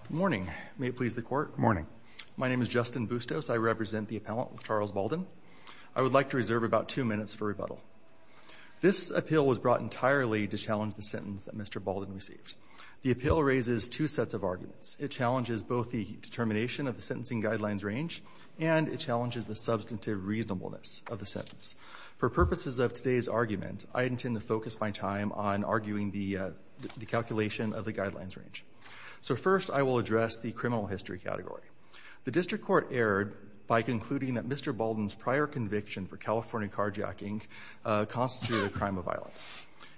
Good morning. My name is Justin Bustos. I represent the appellant LeCharles Baldon. I would like to reserve about two minutes for rebuttal. This appeal was brought entirely to challenge the sentence that Mr. Baldon received. The appeal raises two sets of arguments. It challenges both the determination of the sentencing guidelines range and it challenges the substantive reasonableness of the sentence. For purposes of today's argument, I intend to focus my time on arguing the calculation of the guidelines range. So first, I will address the criminal history category. The district court erred by concluding that Mr. Baldon's prior conviction for California carjacking constituted a crime of violence.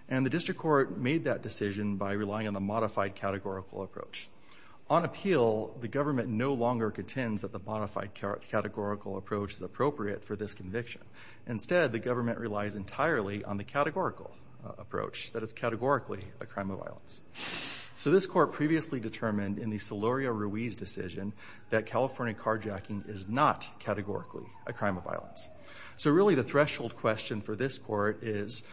And the district court made that decision by relying on a modified categorical approach. On appeal, the government no longer contends that the modified categorical approach is appropriate for this conviction. Instead, the government relies entirely on the categorical approach, that it's categorically a crime of violence. So this court previously determined in the Solorio-Ruiz decision that California carjacking is not categorically a crime of violence. So really the threshold question for this court is,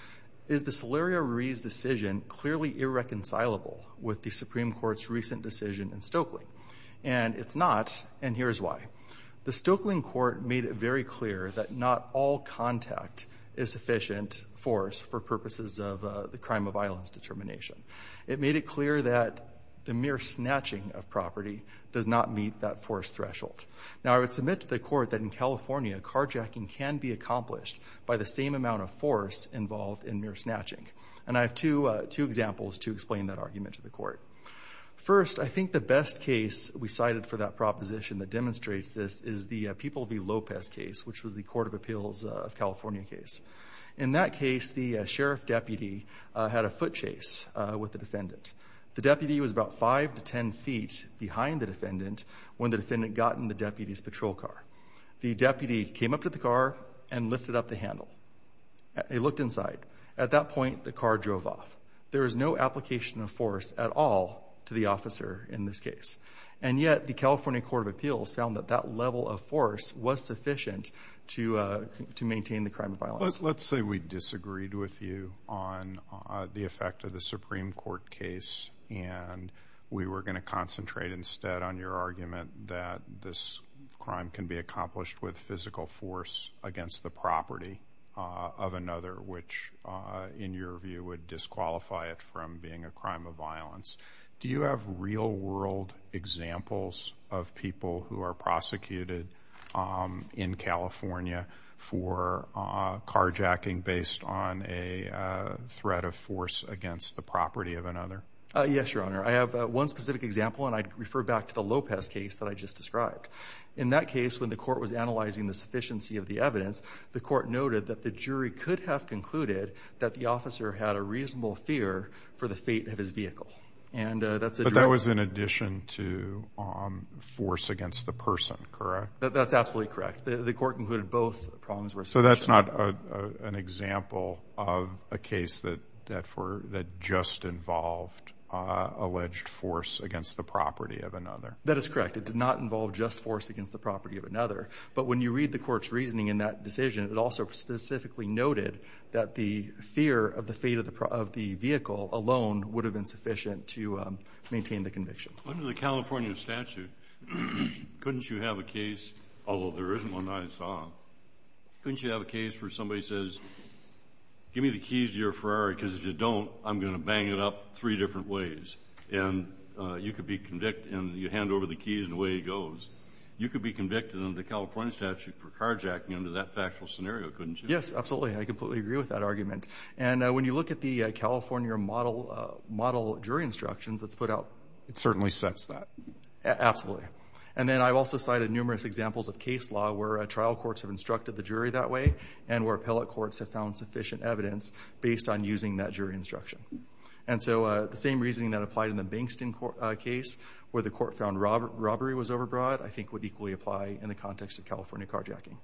is the Solorio-Ruiz decision clearly irreconcilable with the Supreme Court's recent decision in Stokely? And it's not, and here's why. The Stokely court made it very clear that not all contact is sufficient force for purposes of the crime of violence determination. It made it clear that the mere snatching of property does not meet that force threshold. Now I would submit to the court that in California, carjacking can be accomplished by the same amount of force involved in mere snatching. And I have two examples to explain that argument to the court. First, I think the best case we cited for that proposition that demonstrates this is the People v. Lopez case, which was the Court of Appeals of California case. In that case, the sheriff deputy had a foot chase with the defendant. The deputy was about five to ten feet behind the defendant when the defendant got in the deputy's patrol car. The deputy came up to the car and lifted up the handle. He looked inside. At that point, the car drove off. There was no application of force at all to the officer in this case. And yet the California Court of Appeals found that that level of force was sufficient to maintain the crime of violence. Let's say we disagreed with you on the effect of the Supreme Court case and we were going to concentrate instead on your argument that this crime can be accomplished with physical force against the property of another, which in your view would disqualify it from being a crime of violence. Do you have real-world examples of people who are prosecuted in California for carjacking based on a threat of force against the property of another? Yes, Your Honor. I have one specific example, and I refer back to the Lopez case that I just described. In that case, when the court was analyzing the sufficiency of the evidence, the court noted that the jury could have concluded that the officer had a reasonable fear for the fate of his vehicle. But that was in addition to force against the person, correct? That's absolutely correct. The court concluded both problems were sufficient. So that's not an example of a case that just involved alleged force against the property of another? That is correct. It did not involve just force against the property of another. But when you read the court's reasoning in that decision, it also specifically noted that the fear of the fate of the vehicle alone would have been sufficient to maintain the conviction. Under the California statute, couldn't you have a case, although there isn't one I saw, couldn't you have a case where somebody says, give me the keys to your Ferrari because if you don't, I'm going to bang it up three different ways. And you could be convicted and you hand over the keys and away he goes. You could be convicted under the California statute for carjacking under that factual scenario, couldn't you? Yes, absolutely. I completely agree with that argument. And when you look at the California model jury instructions that's put out, it certainly sets that. Absolutely. And then I've also cited numerous examples of case law where trial courts have instructed the jury that way and where appellate courts have found sufficient evidence based on using that jury instruction. And so the same reasoning that applied in the Bankston case where the court found robbery was overbroad, I think would equally apply in the context of California carjacking.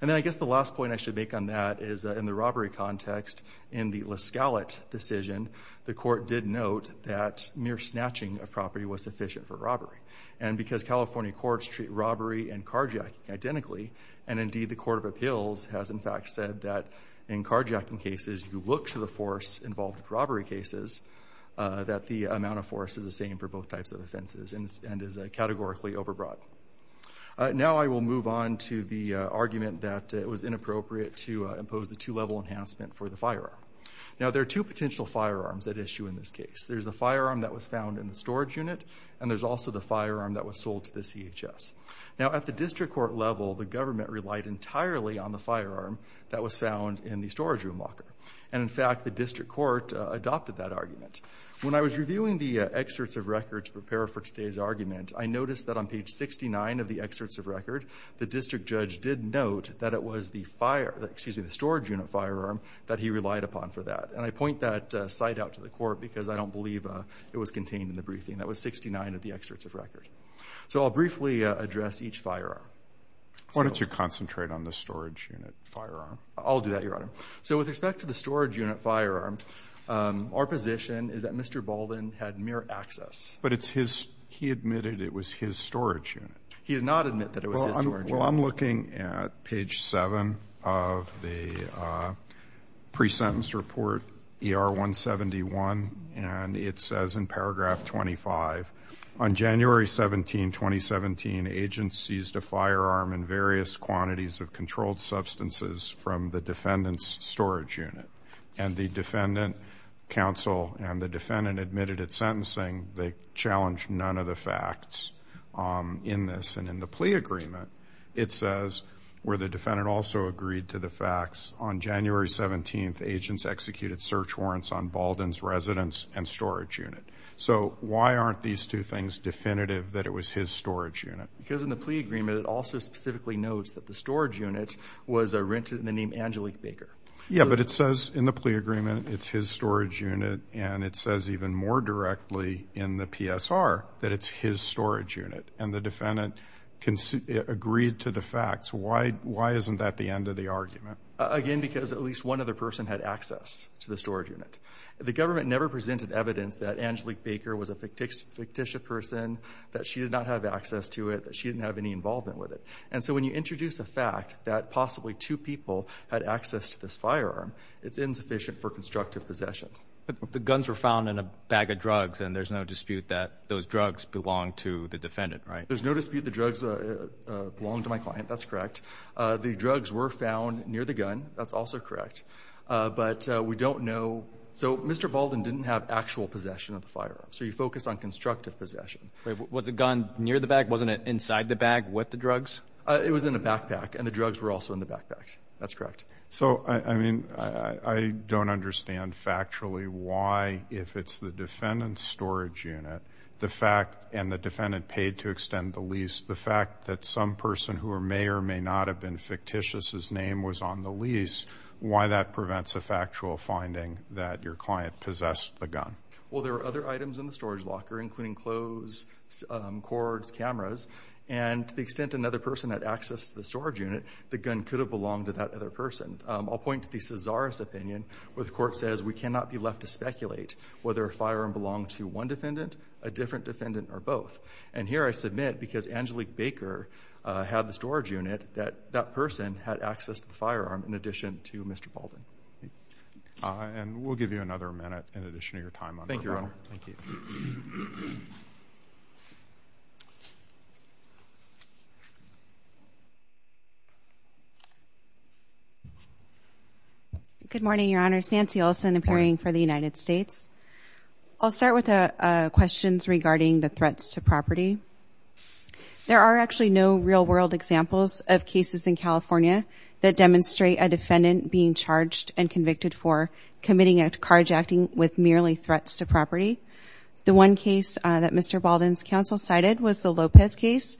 And then I guess the last point I should make on that is in the robbery context in the La Scala decision, the court did note that mere snatching of property was sufficient for robbery. And because California courts treat robbery and carjacking identically, and indeed the Court of Appeals has in fact said that in carjacking cases you look to the force involved with robbery cases that the amount of force is the same for both types of offenses and is categorically overbroad. Now I will move on to the argument that it was inappropriate to impose the two-level enhancement for the firearm. Now there are two potential firearms at issue in this case. There's the firearm that was found in the storage unit and there's also the firearm that was sold to the CHS. Now at the district court level, the government relied entirely on the firearm that was found in the storage room locker. And in fact the district court adopted that argument. When I was reviewing the excerpts of record to prepare for today's argument, I noticed that on page 69 of the excerpts of record, the district judge did note that it was the storage unit firearm that he relied upon for that. And I point that site out to the court because I don't believe it was contained in the briefing. That was 69 of the excerpts of record. So I'll briefly address each firearm. Why don't you concentrate on the storage unit firearm? I'll do that, Your Honor. So with respect to the storage unit firearm, our position is that Mr. Baldwin had mere access. But he admitted it was his storage unit. He did not admit that it was his storage unit. Well, I'm looking at page 7 of the pre-sentence report, ER 171, and it says in paragraph 25, on January 17, 2017, agents seized a firearm and various quantities of controlled substances from the defendant's storage unit. And the defendant counsel and the defendant admitted at sentencing they challenged none of the facts in this. And in the plea agreement, it says, where the defendant also agreed to the facts, on January 17, agents executed search warrants on Baldwin's residence and storage unit. So why aren't these two things definitive that it was his storage unit? Because in the plea agreement, it also specifically notes that the storage unit was rented in the name Angelique Baker. Yeah, but it says in the plea agreement it's his storage unit, and it says even more directly in the PSR that it's his storage unit. And the defendant agreed to the facts. Why isn't that the end of the argument? Again, because at least one other person had access to the storage unit. The government never presented evidence that Angelique Baker was a fictitious person, that she did not have access to it, that she didn't have any involvement with it. And so when you introduce a fact that possibly two people had access to this firearm, it's insufficient for constructive possession. But the guns were found in a bag of drugs, and there's no dispute that those drugs belong to the defendant, right? There's no dispute the drugs belong to my client. That's correct. The drugs were found near the gun. That's also correct. But we don't know. So Mr. Baldwin didn't have actual possession of the firearm. So you focus on constructive possession. Was the gun near the bag? Wasn't it inside the bag with the drugs? It was in a backpack, and the drugs were also in the backpack. That's correct. So, I mean, I don't understand factually why if it's the defendant's storage unit, and the defendant paid to extend the lease, the fact that some person who may or may not have been fictitious, his name was on the lease, why that prevents a factual finding that your client possessed the gun? including clothes, cords, cameras. And to the extent another person had access to the storage unit, the gun could have belonged to that other person. I'll point to the Cesaris opinion, where the court says we cannot be left to speculate whether a firearm belonged to one defendant, a different defendant, or both. And here I submit, because Angelique Baker had the storage unit, that that person had access to the firearm, in addition to Mr. Baldwin. And we'll give you another minute in addition to your time. Thank you, Your Honor. Thank you. Thank you. Good morning, Your Honor. It's Nancy Olson, appearing for the United States. I'll start with questions regarding the threats to property. There are actually no real-world examples of cases in California that demonstrate a defendant being charged and convicted for committing a carjacking with merely threats to property. The one case that Mr. Baldwin's counsel cited was the Lopez case.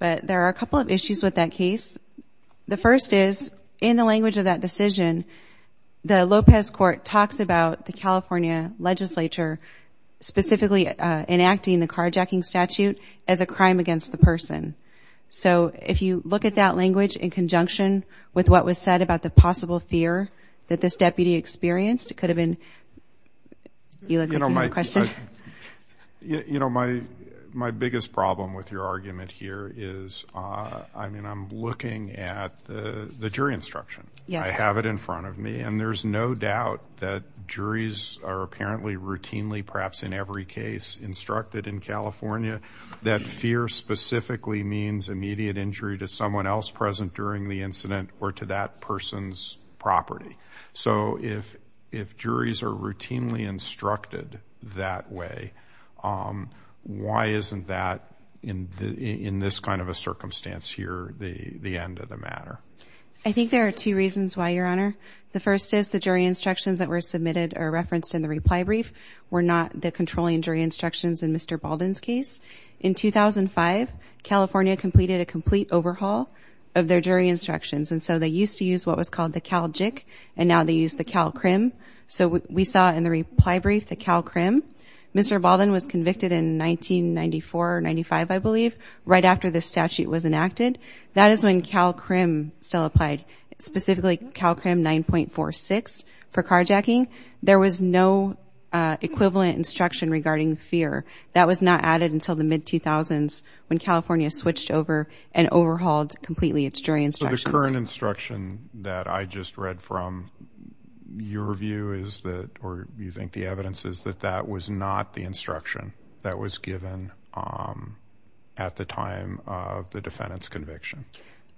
But there are a couple of issues with that case. The first is, in the language of that decision, the Lopez court talks about the California legislature specifically enacting the carjacking statute as a crime against the person. So if you look at that language in conjunction with what was said about the possible fear that this deputy experienced, it could have been you look like you have a question. You know, my biggest problem with your argument here is, I mean, I'm looking at the jury instruction. I have it in front of me. And there's no doubt that juries are apparently routinely, perhaps in every case instructed in California, that fear specifically means immediate injury to someone else present during the incident or to that person's property. So if juries are routinely instructed that way, why isn't that in this kind of a circumstance here the end of the matter? I think there are two reasons why, Your Honor. The first is the jury instructions that were submitted or referenced in the reply brief were not the controlling jury instructions in Mr. Baldwin's case. In 2005, California completed a complete overhaul of their jury instructions. And so they used to use what was called the Cal JIC, and now they use the Cal CRIM. So we saw in the reply brief the Cal CRIM. Mr. Baldwin was convicted in 1994 or 95, I believe, right after this statute was enacted. That is when Cal CRIM still applied, specifically Cal CRIM 9.46 for carjacking. There was no equivalent instruction regarding fear. That was not added until the mid-2000s when California switched over and overhauled completely its jury instructions. So the current instruction that I just read from your view is that or you think the evidence is that that was not the instruction that was given at the time of the defendant's conviction?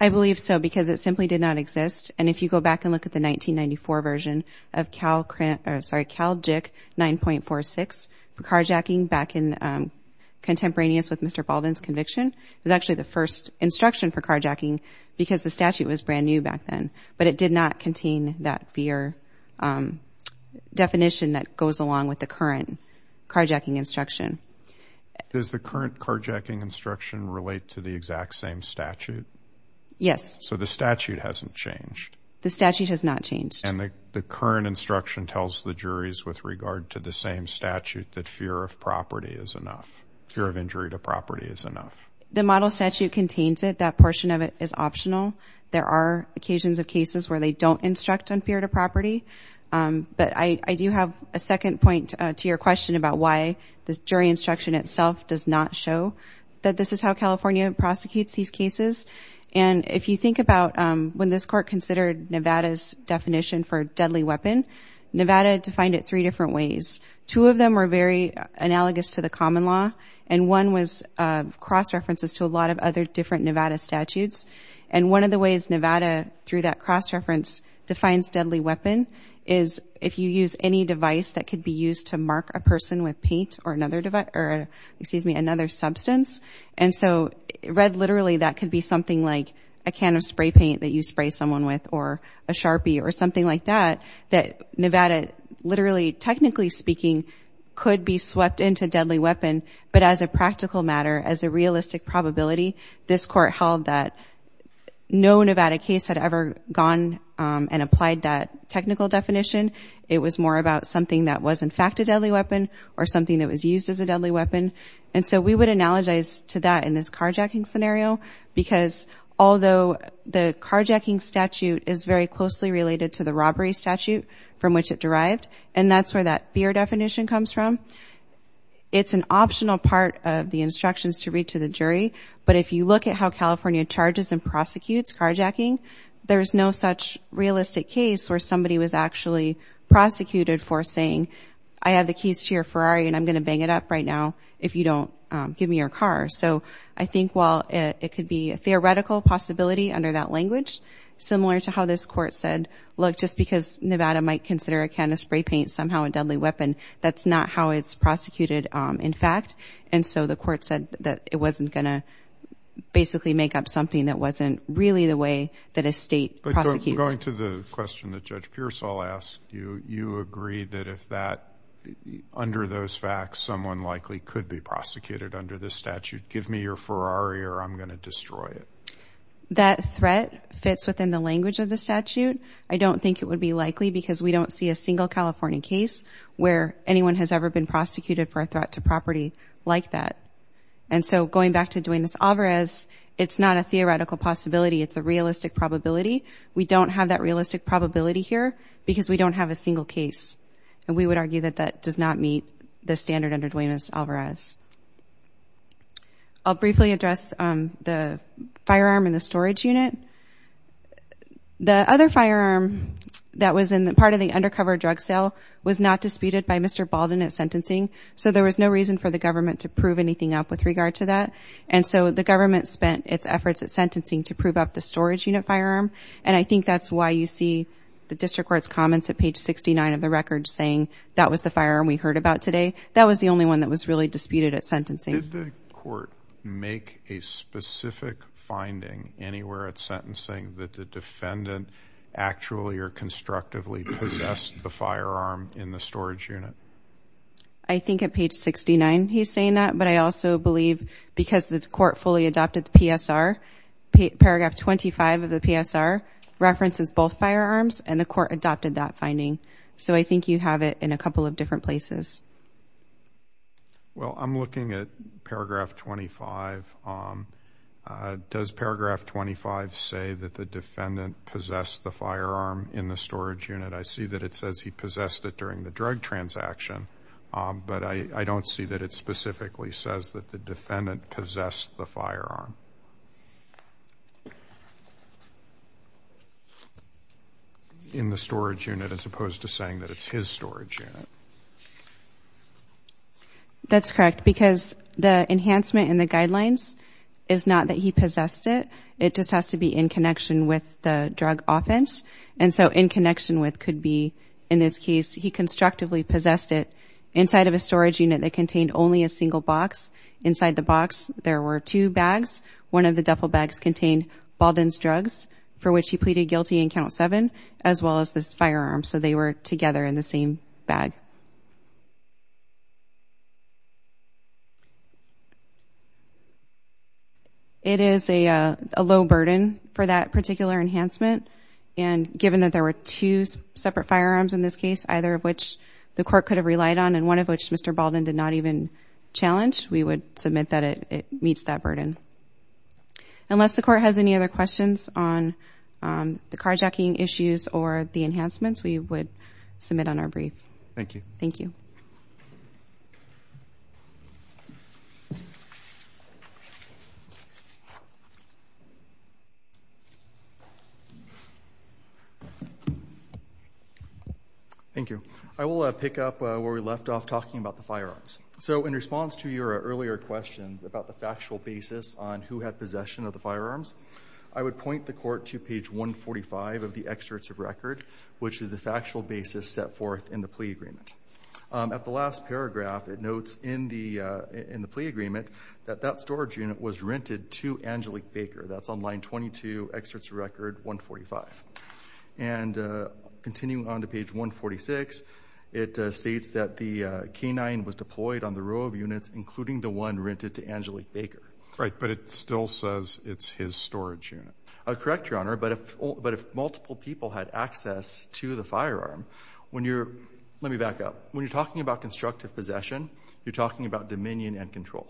I believe so because it simply did not exist. And if you go back and look at the 1994 version of Cal JIC 9.46 for carjacking back in contemporaneous with Mr. Baldwin's conviction, it was actually the first instruction for carjacking because the statute was brand new back then. But it did not contain that fear definition that goes along with the current carjacking instruction. Does the current carjacking instruction relate to the exact same statute? Yes. So the statute hasn't changed. The statute has not changed. And the current instruction tells the juries with regard to the same statute that fear of property is enough, fear of injury to property is enough. The model statute contains it. That portion of it is optional. There are occasions of cases where they don't instruct on fear to property. But I do have a second point to your question about why the jury instruction itself does not show that this is how California prosecutes these cases. And if you think about when this court considered Nevada's definition for a deadly weapon, Nevada defined it three different ways. Two of them were very analogous to the common law, and one was cross-references to a lot of other different Nevada statutes. And one of the ways Nevada, through that cross-reference, defines deadly weapon is if you use any device that could be used to mark a person with paint or another device or, excuse me, another substance. And so read literally, that could be something like a can of spray paint that you spray someone with or a Sharpie or something like that, that Nevada literally, technically speaking, could be swept into deadly weapon. But as a practical matter, as a realistic probability, this court held that no Nevada case had ever gone and applied that technical definition. It was more about something that was in fact a deadly weapon or something that was used as a deadly weapon. And so we would analogize to that in this carjacking scenario because although the carjacking statute is very closely related to the robbery statute from which it derived, and that's where that fear definition comes from, it's an optional part of the instructions to read to the jury. But if you look at how California charges and prosecutes carjacking, there's no such realistic case where somebody was actually prosecuted for saying, I have the keys to your Ferrari and I'm going to bang it up right now if you don't give me your car. So I think while it could be a theoretical possibility under that language, similar to how this court said, look, just because Nevada might consider a can of spray paint somehow a deadly weapon, that's not how it's prosecuted in fact. And so the court said that it wasn't going to basically make up something that wasn't really the way that a state prosecutes. But going to the question that Judge Pearsall asked, you agreed that if that, under those facts, someone likely could be prosecuted under this statute, give me your Ferrari or I'm going to destroy it. That threat fits within the language of the statute. I don't think it would be likely because we don't see a single California case where anyone has ever been prosecuted for a threat to property like that. And so going back to Duenas-Alvarez, it's not a theoretical possibility. It's a realistic probability. We don't have that realistic probability here because we don't have a single case. And we would argue that that does not meet the standard under Duenas-Alvarez. I'll briefly address the firearm and the storage unit. The other firearm that was in part of the undercover drug sale was not disputed by Mr. Baldwin at sentencing. So there was no reason for the government to prove anything up with regard to that. And so the government spent its efforts at sentencing to prove up the storage unit firearm. And I think that's why you see the district court's comments at page 69 of the record saying that was the firearm we heard about today. That was the only one that was really disputed at sentencing. Did the court make a specific finding anywhere at sentencing that the defendant actually or constructively possessed the firearm in the storage unit? I think at page 69 he's saying that. But I also believe because the court fully adopted the PSR, paragraph 25 of the PSR references both firearms, and the court adopted that finding. So I think you have it in a couple of different places. Well, I'm looking at paragraph 25. Does paragraph 25 say that the defendant possessed the firearm in the storage unit? I see that it says he possessed it during the drug transaction. But I don't see that it specifically says that the defendant possessed the firearm in the storage unit as opposed to saying that it's his storage unit. That's correct. Because the enhancement in the guidelines is not that he possessed it. It just has to be in connection with the drug offense. And so in connection with could be, in this case, he constructively possessed it inside of a storage unit that contained only a single box. Inside the box there were two bags. One of the duffel bags contained Baldwin's drugs, for which he pleaded guilty in Count 7, as well as this firearm. So they were together in the same bag. It is a low burden for that particular enhancement. And given that there were two separate firearms in this case, either of which the court could have relied on and one of which Mr. Baldwin did not even challenge, we would submit that it meets that burden. Unless the court has any other questions on the carjacking issues or the enhancements, we would submit on our brief. Thank you. Thank you. Thank you. I will pick up where we left off talking about the firearms. So in response to your earlier questions about the factual basis on who had possession of the firearms, I would point the court to page 145 of the excerpts of record, which is the factual basis set forth in the plea agreement. At the last paragraph it notes in the plea agreement that that storage unit was rented to Angelique Baker. That's on line 22, excerpts of record 145. And continuing on to page 146, it states that the canine was deployed on the row of units, including the one rented to Angelique Baker. Right. But it still says it's his storage unit. Correct, Your Honor. But if multiple people had access to the firearm, when you're – let me back up. When you're talking about constructive possession, you're talking about dominion and control.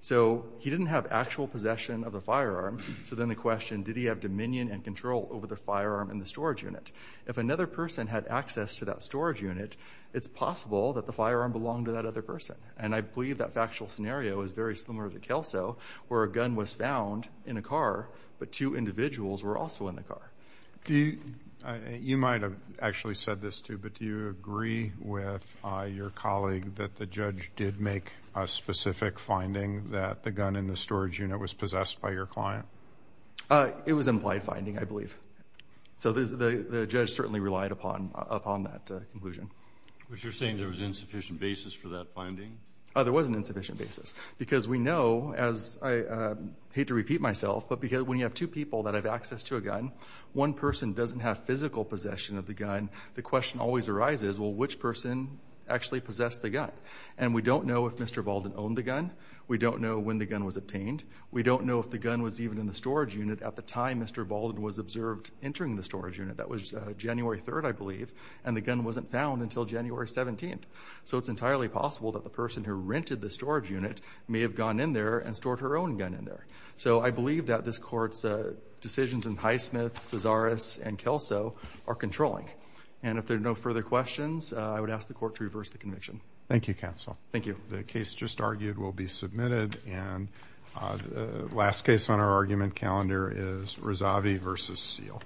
So he didn't have actual possession of the firearm. So then the question, did he have dominion and control over the firearm and the storage unit? If another person had access to that storage unit, it's possible that the firearm belonged to that other person. And I believe that factual scenario is very similar to Kelso, where a gun was found in a car but two individuals were also in the car. You might have actually said this too, but do you agree with your colleague that the judge did make a specific finding that the gun in the storage unit was possessed by your client? It was implied finding, I believe. So the judge certainly relied upon that conclusion. But you're saying there was insufficient basis for that finding? There was an insufficient basis because we know, as I hate to repeat myself, but when you have two people that have access to a gun, one person doesn't have physical possession of the gun, the question always arises, well, which person actually possessed the gun? And we don't know if Mr. Baldwin owned the gun. We don't know when the gun was obtained. We don't know if the gun was even in the storage unit. At the time, Mr. Baldwin was observed entering the storage unit. That was January 3rd, I believe, and the gun wasn't found until January 17th. So it's entirely possible that the person who rented the storage unit may have gone in there and stored her own gun in there. So I believe that this Court's decisions in Highsmith, Cesaris, and Kelso are controlling. And if there are no further questions, I would ask the Court to reverse the conviction. Thank you, counsel. Thank you. The case just argued will be submitted, and the last case on our argument calendar is Rezavi v. Seale.